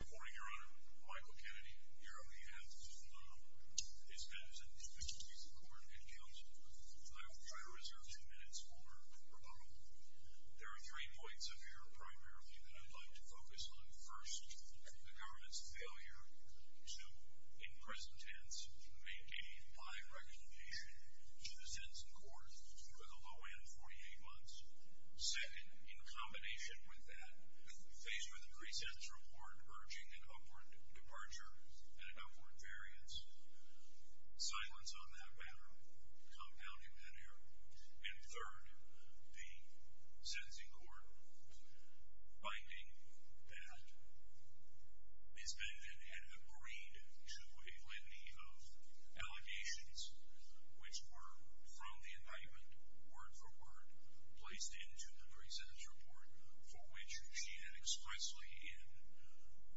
Good morning, Your Honor. Michael Kennedy, here on behalf of his cousin, Mr. Keith McCord, and counsel. I will try to reserve two minutes for rebuttal. There are three points of error, primarily, that I'd like to focus on. First, the government's failure to, in present tense, maintain high recognition to the sentence in court for the low-end 48 months. Second, in combination with that, faced with a pre-sentence report urging an upward departure and an upward variance, silence on that matter, compounding that error. And third, the sentencing court finding that Ms. Benvin had agreed to a plenty of allegations, which were, from the indictment, word for word, placed into the pre-sentence report, for which she had expressly, in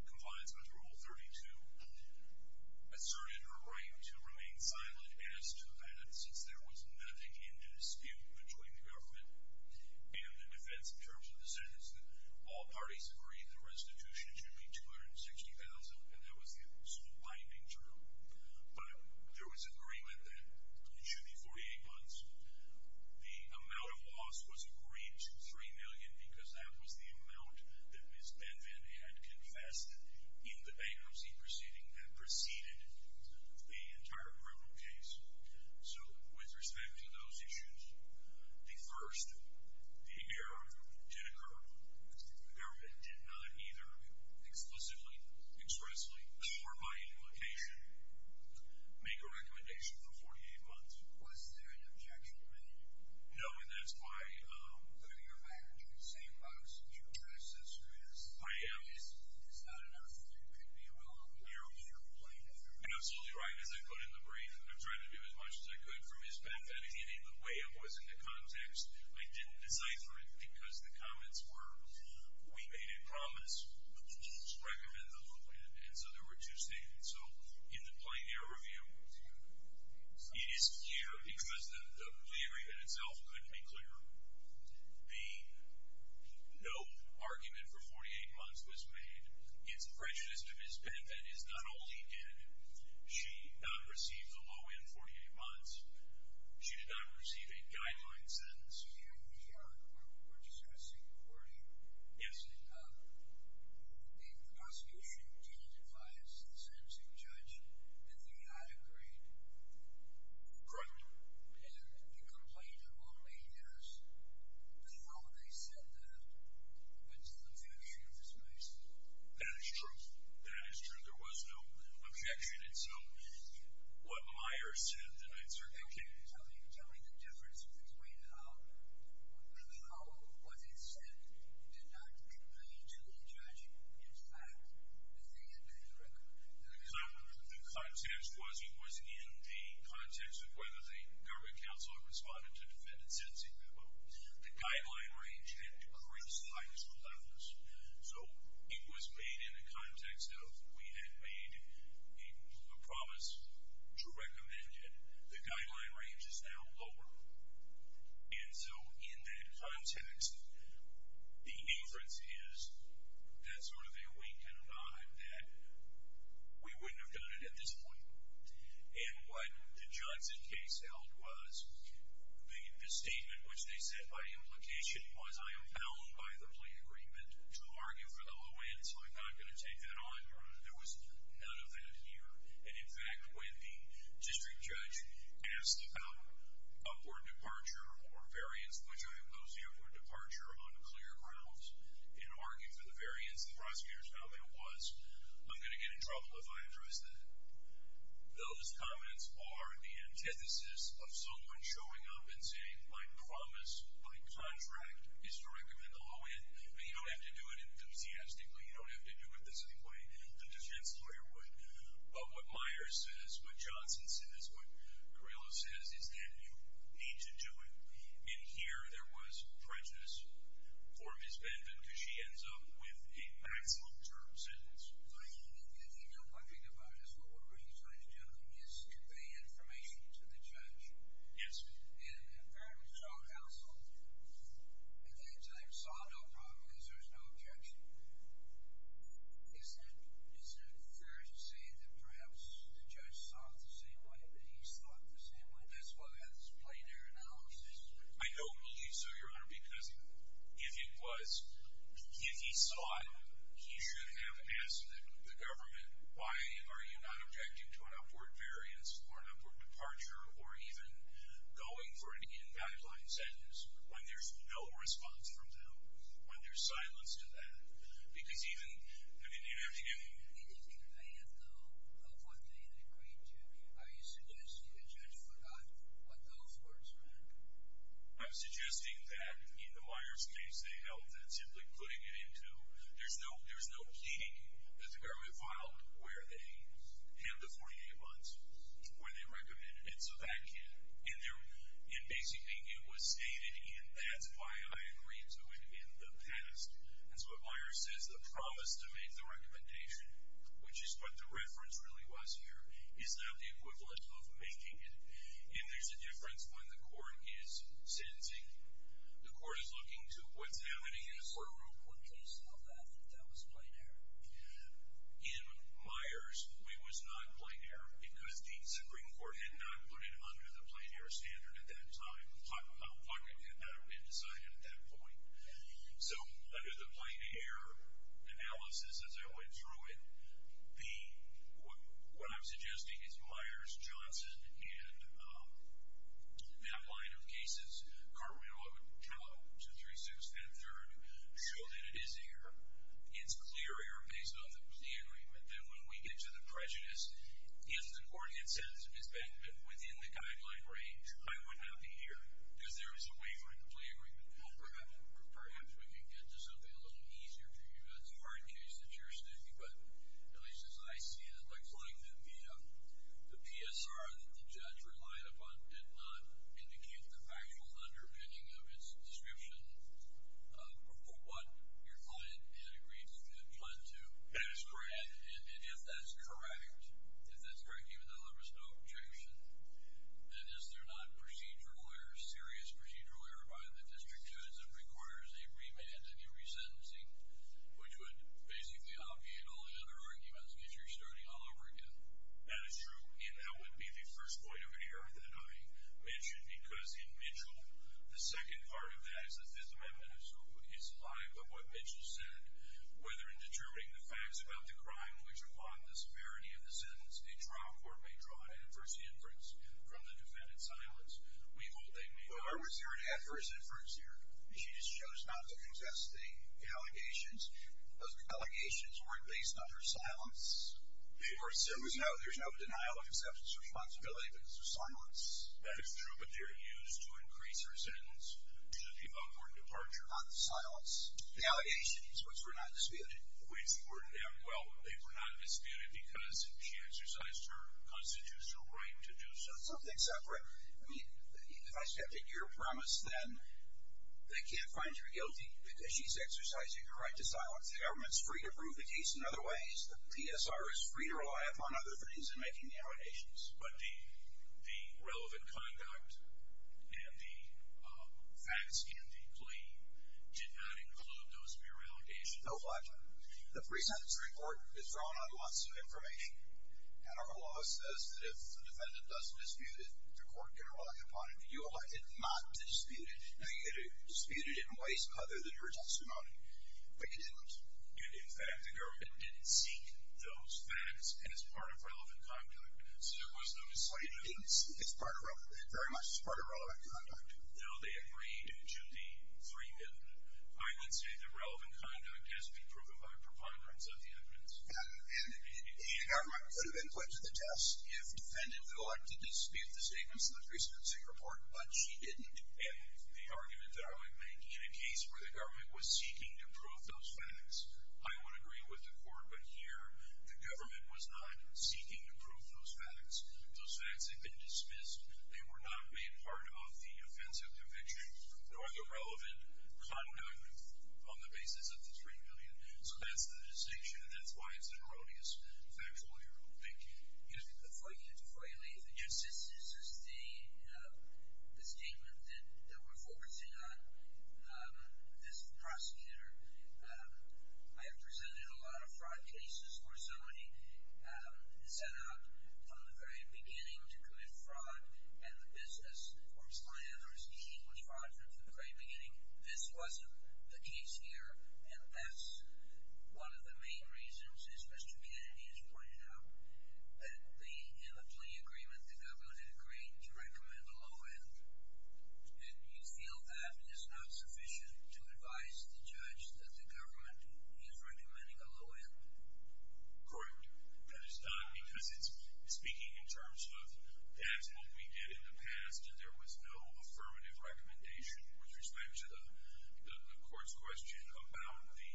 compliance with Rule 32, asserted her right to remain silent, as to that, since there was nothing in dispute between the government and the defense in terms of the sentence, that all parties agreed the restitution should be $260,000, and that was the sole binding term. But there was agreement that, to the 48 months, the amount of loss was agreed to $3 million, because that was the amount that Ms. Benvin had confessed in the bankruptcy proceeding that preceded the entire criminal case. So, with respect to those issues, the first, the error did occur. The government did not either, explicitly, expressly, or by implication, make a recommendation for 48 months. Was there an objection made? No, and that's why… But your manager is saying, Bob, since you don't trust this, who is? I am. It's not enough that it could be a little clearer on your point. You're absolutely right. As I put it in the brief, I'm trying to do as much as I could from his perspective. The way it was in the context, I didn't decipher it because the comments were, we made a promise, the rules recommend the loop, and so there were two statements. So, in the plain error view, it is clear because the agreement itself couldn't be clearer. The no argument for 48 months was made. It's a prejudice to Ms. Benvin is not only did she not receive the loan in 48 months, she did not receive a guideline sentence. You know, when we were discussing the wording. Yes. The prosecution did advise the Samson judge that they had agreed. Correct. And the complaint of only eight years. But how they said that, it's an infusion of dismissal. That is true. That is true. There was no objection. And so, what Myers said, I certainly can't. Tell me the difference between how what they said did not convene to the judge. In fact, the thing that they recommended. So, the context was he was in the context of whether the government counselor responded to defendant's sentencing memo. The guideline range had increased by just 11 months. So, it was made in the context of we had made a promise to recommend it. The guideline range is now lower. And so, in that context, the inference is that's sort of a wink and a nod that we wouldn't have done it at this point. And what the Johnson case held was the statement which they said by implication was I am bound by the plea agreement to argue for the low end. So, I'm not going to take that on. There was none of that here. And, in fact, when the district judge asked about upward departure or variance, which I impose upward departure on clear grounds and argue for the variance, the prosecutors found there was. I'm going to get in trouble if I address that. Those comments are the antithesis of someone showing up and saying, my promise, my contract is to recommend the low end. But you don't have to do it enthusiastically. You don't have to do it the same way the defense lawyer would. But what Myers says, what Johnson says, what Carrillo says is that you need to do it. And here there was prejudice for Ms. Benvenuto. She ends up with a maximum term sentence. But even if you don't like it about us, what we're really trying to do is convey information to the judge. Yes. And apparently strong household. Again, so they saw no problem because there's no objection. Isn't it fair to say that perhaps the judge saw it the same way, that he saw it the same way? That's what has played their analysis. I don't think so, Your Honor, because if it was, if he saw it, he should have asked the government, why are you not objecting to an upward variance, or an upward departure, or even going for an in-backline sentence when there's no response from them, when there's silence to that? Because even an interview. It is in advance, though, of what they agreed to. Are you suggesting the judge forgot what those words meant? I'm suggesting that in the Myers case, they held that simply putting it into, there's no pleading that the government filed where they had the 48 months when they recommended it, so that can't. And basically, it was stated, and that's why I agreed to it in the past. And so what Myers says, the promise to make the recommendation, which is what the reference really was here, is not the equivalent of making it. And there's a difference when the court is sentencing. The court is looking to what's happening is. What case held that, that that was plain error? In Myers, it was not plain error, because the Supreme Court had not put it under the plain error standard at that time. It had not been decided at that point. So under the plain error analysis, as I went through it, what I'm suggesting is Myers, Johnson, and that line of cases, Cartwell, I would count to three-sixths and a third, show that it is error. It's clear error based on the plenary. But then when we get to the prejudice, if the court had sentenced Ms. Beckman within the guideline range, I would not be here, because there is a waiver in the plenary. Well, perhaps we can get to something a little easier for you. That's a hard case that you're sticking, but at least as I see it, it looks like the PSR that the judge relied upon did not indicate the factual underpinning of its description for what your client had agreed to, had planned to. That is correct. And if that's correct, even though there was no objection, then is there not procedural error, serious procedural error, by the district judge that requires a remand and a resentencing, which would basically obviate all the other arguments, because you're starting all over again? That is true, and that would be the first point of an error that I mentioned, because in Mitchell, the second part of that is the Fifth Amendment is alive, but what Mitchell said, whether in determining the facts about the crime which are part of the severity of the sentence, a trial court may draw an adverse inference from the defendant's silence. We won't name names. Well, I was there and had adverse inference there. She just chose not to contest the allegations. Those allegations weren't based on her silence. There's no denial of acceptance or responsibility, but it's the silence. That is true, but they're used to increase her sentence, which would give up her departure. Not the silence. The allegations, which were not disputed. Which were not, well, they were not disputed because she exercised her constitutional right to do so. It's something separate. I mean, if I stepped at your premise, then they can't find you guilty because she's exercising her right to silence. The government's free to prove the case in other ways. The PSR is free to rely upon other things in making the allegations. But the relevant conduct and the facts in the plea did not include those mere allegations. No, but the pre-sentence report is drawn on lots of information, and our law says that if the defendant doesn't dispute it, the court can rely upon it. You elected not to dispute it. Now, you could have disputed it in ways other than your testimony, but you didn't. In fact, the government didn't seek those facts as part of relevant conduct. So there was no misleading. It very much is part of relevant conduct. No, they agreed to the free evidence. I would say the relevant conduct has been proven by preponderance of the evidence. And the government could have been put to the test if the defendant had elected to dispute the statements in the pre-sentencing report, but she didn't. And the argument that I would make, in a case where the government was seeking to prove those facts, I would agree with the court. But here, the government was not seeking to prove those facts. Those facts had been dismissed. They were not made part of the offensive conviction nor the relevant conduct on the basis of the $3 million. So that's the distinction, and that's why it's an erroneous factual error. Thank you. Before you leave, just this is the statement that we're focusing on. This is the prosecutor. I have presented a lot of fraud cases where somebody set out from the very beginning to commit fraud, and the business or plan or scheme was fraudulent from the very beginning. This wasn't the case here, and that's one of the main reasons, as Mr. Kennedy has pointed out, that in the plea agreement, the government agreed to recommend a low end. And you feel that is not sufficient to advise the judge that the government is recommending a low end? Correct. That is not, because it's speaking in terms of that's what we did in the past, and there was no affirmative recommendation with respect to the court's question about the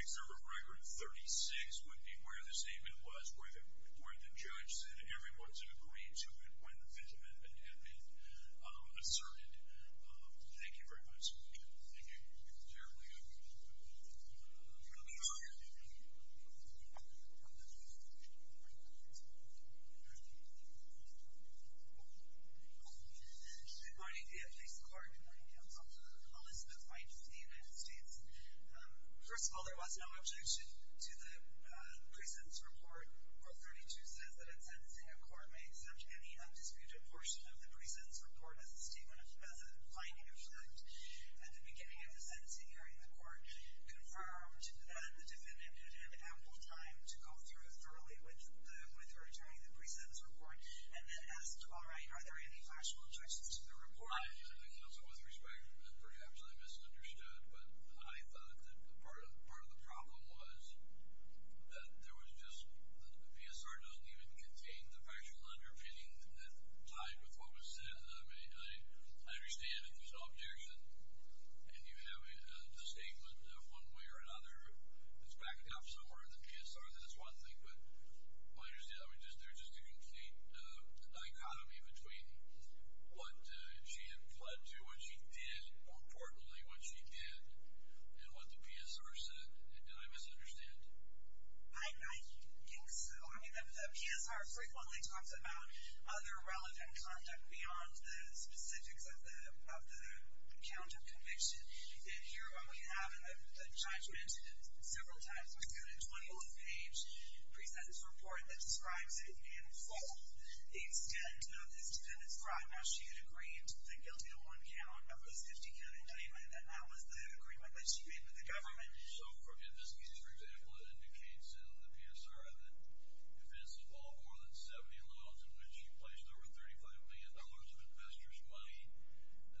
excerpt of Regard 36 would be where this amendment was, where the judge said everyone should agree to it when the amendment had been asserted. Thank you very much. Thank you. Is there anybody else? Good morning. Yeah, thanks, Clark. My name is Dr. Elizabeth Weintraub of the United States. First of all, there was no objection to the pre-sentence report. Court 32 says that in sentencing, a court may accept any undisputed portion of the pre-sentence report as a statement, as a binding effect. At the beginning of the sentencing hearing, the court confirmed that the defendant had had ample time to go through it thoroughly with her during the pre-sentence report, and then asked, all right, are there any factual objections to the report? I think also with respect, and perhaps I misunderstood, but I thought that part of the problem was that there was just, the PSR doesn't even contain the factual underpinning that tied with what was said. I mean, I understand if there's an objection and you have a statement one way or another, it's backed up somewhere in the PSR. That's one thing, but there's just a complete dichotomy between what she had pled to, and what she did, more importantly what she did, and what the PSR said. Did I misunderstand? I think so. I mean, the PSR frequently talks about other relevant conduct beyond the specifics of the count of conviction, and here we have a judgment several times. We've got a 21-page pre-sentence report that describes it in full, the extent of this to describe how she had agreed the guilty to one count of a 50-count indictment, and that was the agreement that she made with the government. So if this case, for example, indicates in the PSR that in advance of all more than 70 loans, in which she placed over $35 million of investors' money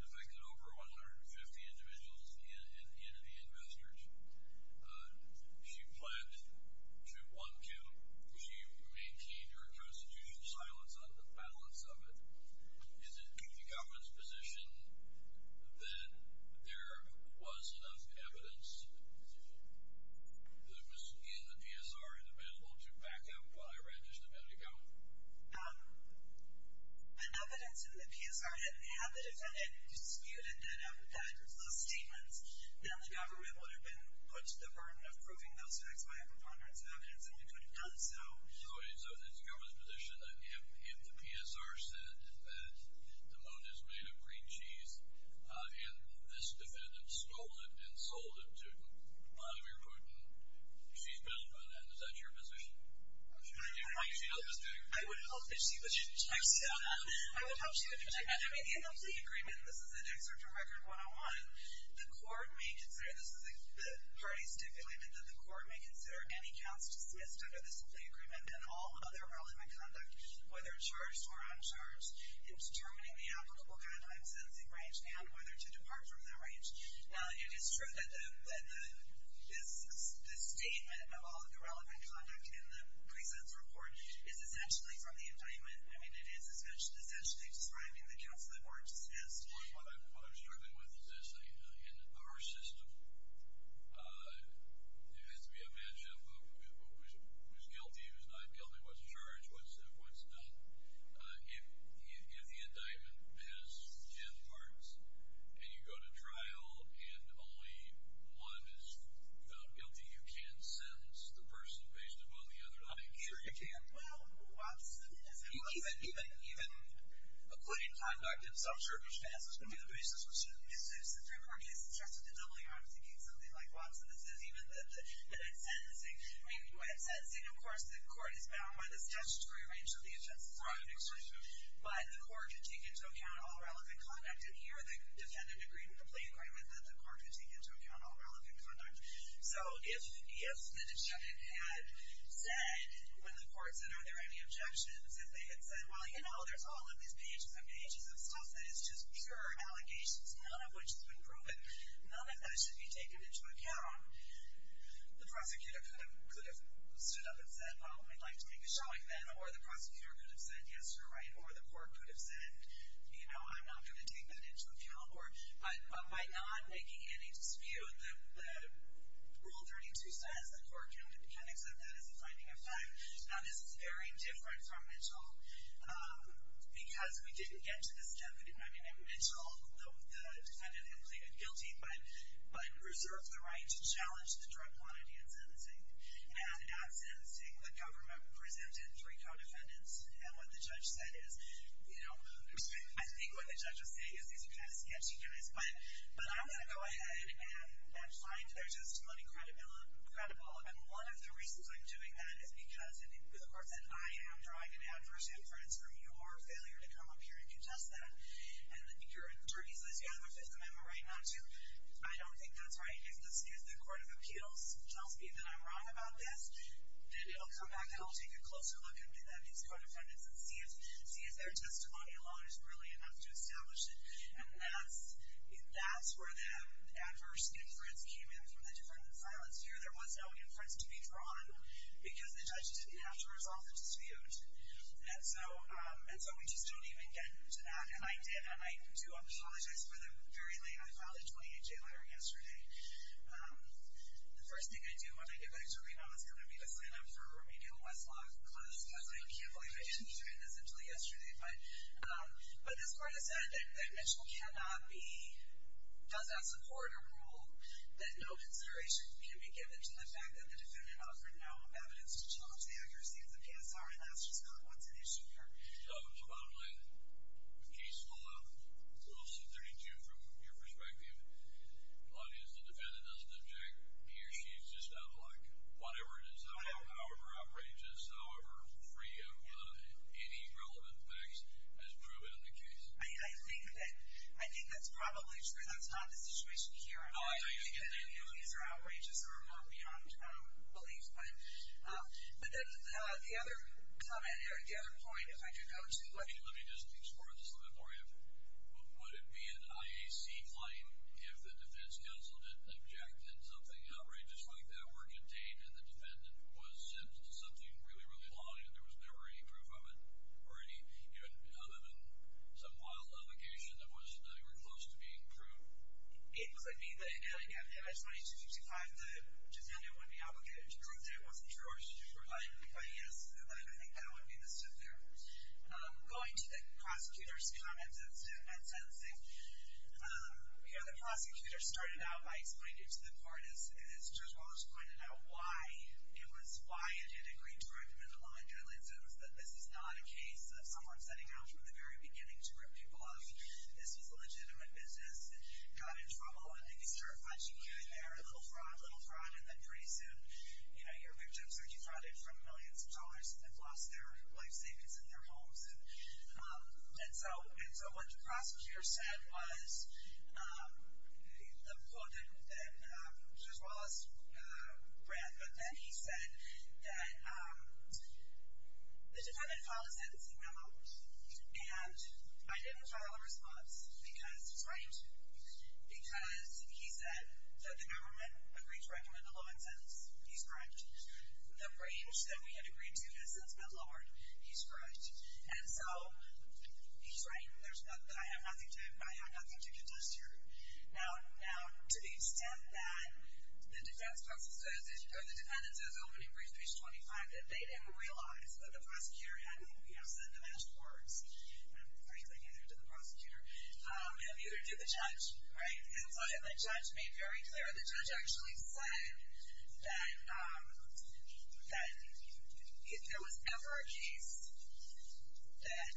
and affected over 150 individuals and the investors, she pled to one count. She maintained her constitutional silence on the balance of it. Is it the government's position that there was enough evidence in the PSR and available to back up what I read just a minute ago? Evidence in the PSR didn't have it, and it disputed those statements. Then the government would have been put to the burden of proving those facts by having hundreds of evidence, and we could have done so. So is the government's position that if the PSR said that the loan is made of green cheese and this defendant stole it and sold it to a lot of your equipment, she's built on that? Is that your position? I don't know. I would hope that she was. I would hope she was. I mean, the NLC agreement, this is an excerpt from Record 101, the court may consider, this is a party stipulatement, that the court may consider any counts dismissed under this NLC agreement and all other relevant conduct, whether charged or uncharged, in determining the applicable guideline of sentencing range and whether to depart from that range. Now, it is true that this statement of all of the relevant conduct in the present report is essentially from the indictment. I mean, it is essentially describing the counts that were dismissed. Well, what I'm struggling with is this. In our system, it has to be a matchup of who's guilty, who's not guilty, what's charged, what's not. If the indictment has ten parts and you go to trial and only one is found guilty, you can't sentence the person based upon the other. I'm not sure you can. Well, Watson is. Even including conduct in self-service cases can be the basis. The Supreme Court is interested in doubling arms and getting something like Watson. This is even in sentencing. I mean, when it's sentencing, of course, the court is bound by this statutory range of the offense. Right. But the court can take into account all relevant conduct. And here, the defendant agreed with the plea agreement that the court could take into account all relevant conduct. So if the defendant had said, when the court said, are there any objections, if they had said, well, you know, there's all of these pages and pages of stuff that is just pure allegations, none of which has been proven, none of that should be taken into account, the prosecutor could have stood up and said, well, we'd like to make a showing then, or the prosecutor could have said, yes, you're right, or the court could have said, you know, I'm not going to take that into account. But by not making any dispute, the Rule 32 says the court can accept that as a finding of time. Now, this is very different from Mitchell because we didn't get to this step. I mean, in Mitchell, the defendant had pleaded guilty but reserved the right to challenge the drug quantity in sentencing. And at sentencing, the government presented three co-defendants. And what the judge said is, you know, I think what the judge will say is, these are kind of sketchy guys, but I'm going to go ahead and find their testimony credible. And one of the reasons I'm doing that is because, of course, I am drawing an adverse inference from your failure to come up here and contest that. And you're in the jury's list. You have a Fifth Amendment right not to. I don't think that's right. If the Court of Appeals tells me that I'm wrong about this, I'll come back and I'll take a closer look at these co-defendants and see if their testimony alone is really enough to establish it. And that's where the adverse inference came in from the different silence here. There was no inference to be drawn because the judge didn't have to resolve the dispute. And so we just don't even get to that. And I did. And I do apologize for the very late I filed a 28-day letter yesterday. The first thing I do when I get back to Reno is going to be to sign up for remedial Westlock class. Because I can't believe I didn't do this until yesterday. But this Court has said that Mitchell cannot be, does not support a rule that no consideration can be given to the fact that the defendant offered no evidence to challenge the accuracy of the PSRA last year. So that's not what's at issue here. So Bob Linn, a case full of little C-32, from your perspective. The defendant doesn't object. He or she is just out of luck. Whatever it is, however outrageous, however free of any relevant facts, has proven in the case. I think that's probably true. That's not the situation here. I don't think any of these are outrageous or are more beyond belief. But then the other comment, the other point, if I could go to... Let me just explore this a little bit for you. Would it be an IAC claim if the defense counsel had objected and something outrageous like that were contained and the defendant was sentenced to something really, really laudable and there was never any proof of it? Or any, other than some wild allegation that they were close to being true? It could be. But in adding up, if it's 2265, the defendant would be obligated to prove that it wasn't true or it's just reliable. But yes, I think that would be the sit there. Going to the prosecutor's comments and sentencing, the prosecutor started out by explaining it to the court as Judge Walters pointed out why it was, why it didn't agree to recommend the law and guidelines. It was that this is not a case of someone setting out from the very beginning to rip people off. This was a legitimate business and got in trouble. I think he certified GQ in there. A little fraud, a little fraud, and then pretty soon, your victims are defrauded from millions of dollars and have lost their life savings in their homes. And so what the prosecutor said was, Judge Wallace ran, but then he said that the defendant filed a sentencing memo and I didn't file a response because he's right. Because he said that the government agreed to recommend the law and sentences. He's correct. The range that we had agreed to has since been lowered. He's correct. And so, he's right. There's nothing, I have nothing to contest here. Now, to the extent that the defense process says, or the defendant says, opening brief page 25, that they didn't realize that the prosecutor hadn't said the last words, or he didn't say anything to the prosecutor, he would have to do the judge, right? And so the judge made very clear, the judge actually said that if there was ever a case that,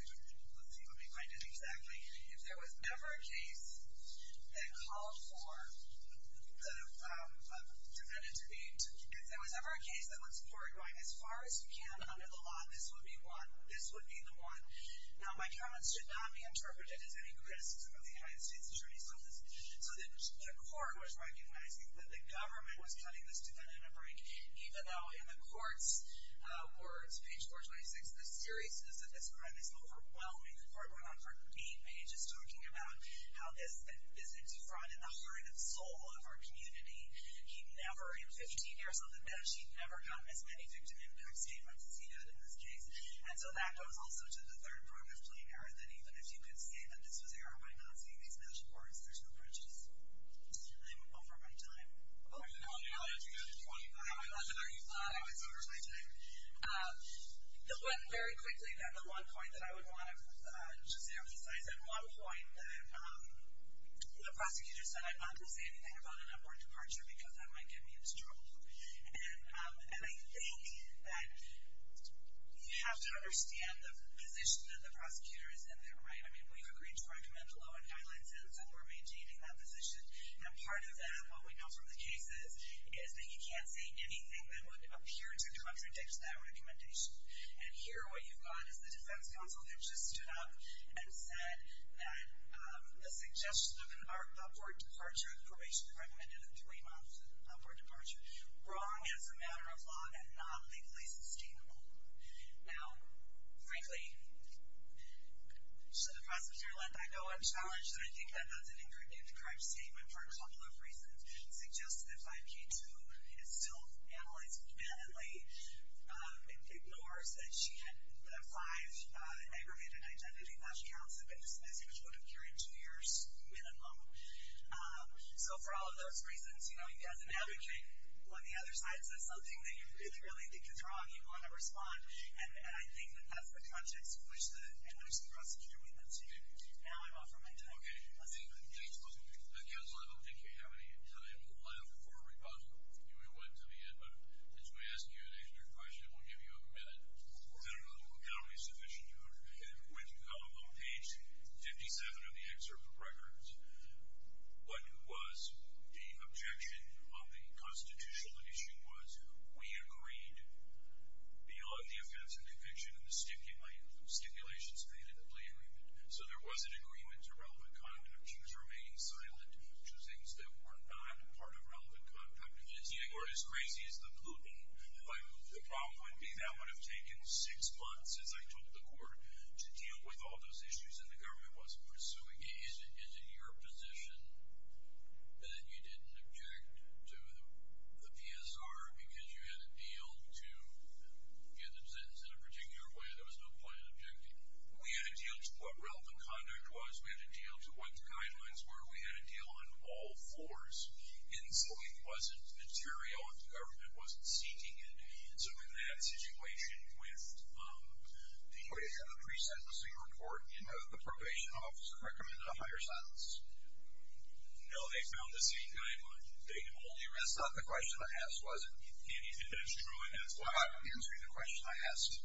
let's see if I can find it exactly, if there was ever a case that called for the defendant to be, if there was ever a case that was foregoing as far as you can under the law, this would be one, this would be the one. Now, my comments should not be interpreted as any criticism of the United States Attorney's Office. So the court was recognizing that the government was cutting this defendant a break, even though in the court's words, page 426, the seriousness of this crime is overwhelming. The court went on for eight pages talking about how this is a defraud in the heart and soul of our community. He never, in 15 years on the bench, he never got as many victim impacts even seated in this case. And so that goes also to the third point of plain error, that even if you can say that this was error by not seeing these national courts, there's no bridges. I'm over my time. Oh, there's another point. Are you glad I was over my time? Very quickly, the one point that I would want to just emphasize. At one point, the prosecutor said, I'm not going to say anything about an upward departure because that might get me into trouble. And I think that you have to understand the position that the prosecutor is in there, right? I mean, we've agreed to recommend a low and high license, and we're maintaining that position. And part of what we know from the cases is that you can't say anything that would appear to contradict that recommendation. And here, what you've got is the defense counsel who just stood up and said that the suggestion of an upward departure, probation recommended a three-month upward departure, wrong as a matter of law and not legally sustainable. Now, frankly, should the prosecutor let that go? I'm challenged, and I think that has an ingredient in the correct statement for a couple of reasons. It suggests that 5K2 is still analyzed mannedly. It ignores that she had the five aggregated identity that she has, but it's as if she would have carried two years minimum. So, for all of those reasons, you know, you've got to navigate. When the other side says something that you really think is wrong, you want to respond. And I think that that's the context in which the emergency prosecutor made that statement. Now, I'm off of my time. Okay. I think, again, I don't think you have any time left for a rebuttal. You know, we went to the end, but I just want to ask you an extra question and we'll give you a minute. I don't know if that will be sufficient. When you got on page 57 of the excerpt of records, what was the objection of the constitutional issue was we agreed beyond the offense and conviction and the stipulations made in the plea agreement. So, there was an agreement to relevant conduct, which was remaining silent, which was things that were not part of relevant conduct. It's either as crazy as the Pluton. The problem would be that would have taken six months as I took the court to deal with all those issues and the government wasn't pursuing it. Is it your position that you didn't object to the PSR because you had a deal to get them sentenced in a particular way? There was no point in objecting. We had a deal to what relevant conduct was. We had a deal to what the guidelines were. We had a deal on all fours, and so it wasn't material if the government wasn't seeking it. So, in that situation with the pre-sentencing report, the probation office recommended a higher sentence. No, they found the same guideline. They told you that's not the question I asked, was it? And it's true, and that's why I'm answering the question I asked.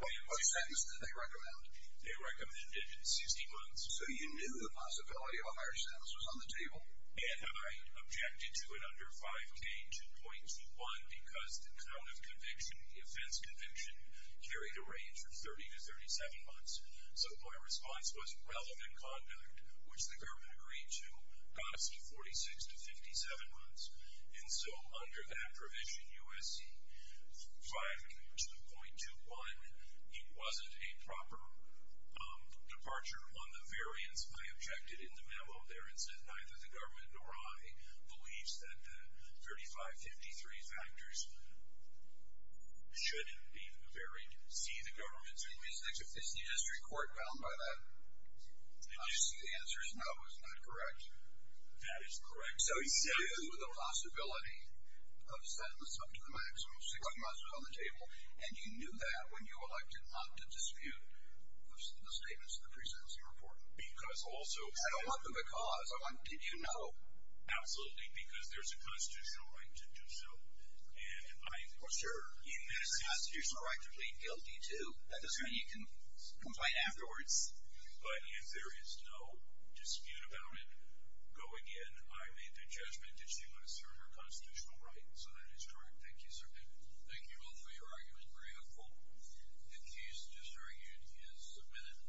What sentence did they recommend? They recommended 60 months. So you knew the possibility of a higher sentence was on the table? And I objected to it under 5K2.21 because the count of conviction, the offense conviction, carried a range of 30 to 37 months. So my response was relevant conduct, which the government agreed to, got us to 46 to 57 months. And so under that provision, U.S.C. 5K2.21, it wasn't a proper departure on the variance. I objected in the memo there and said neither the government nor I believes that the 3553 factors should be varied. See, the government's made mistakes. Did you just record well by that? Did you see the answers? No, it was not correct. That is correct. So you knew the possibility of a sentence up to the maximum, 60 months was on the table, and you knew that when you elected not to dispute the statements in the presidency report? Because also... I don't want the because. I want did you know. Absolutely, because there's a constitutional right to do so. For sure. You have a constitutional right to plead guilty, too. That doesn't mean you can complain afterwards. But if there is no dispute about it, go again. I made the judgment that she must serve her constitutional rights, so that is correct. Thank you, sir. Thank you both for your argument. Very helpful. The case just argued is submitted.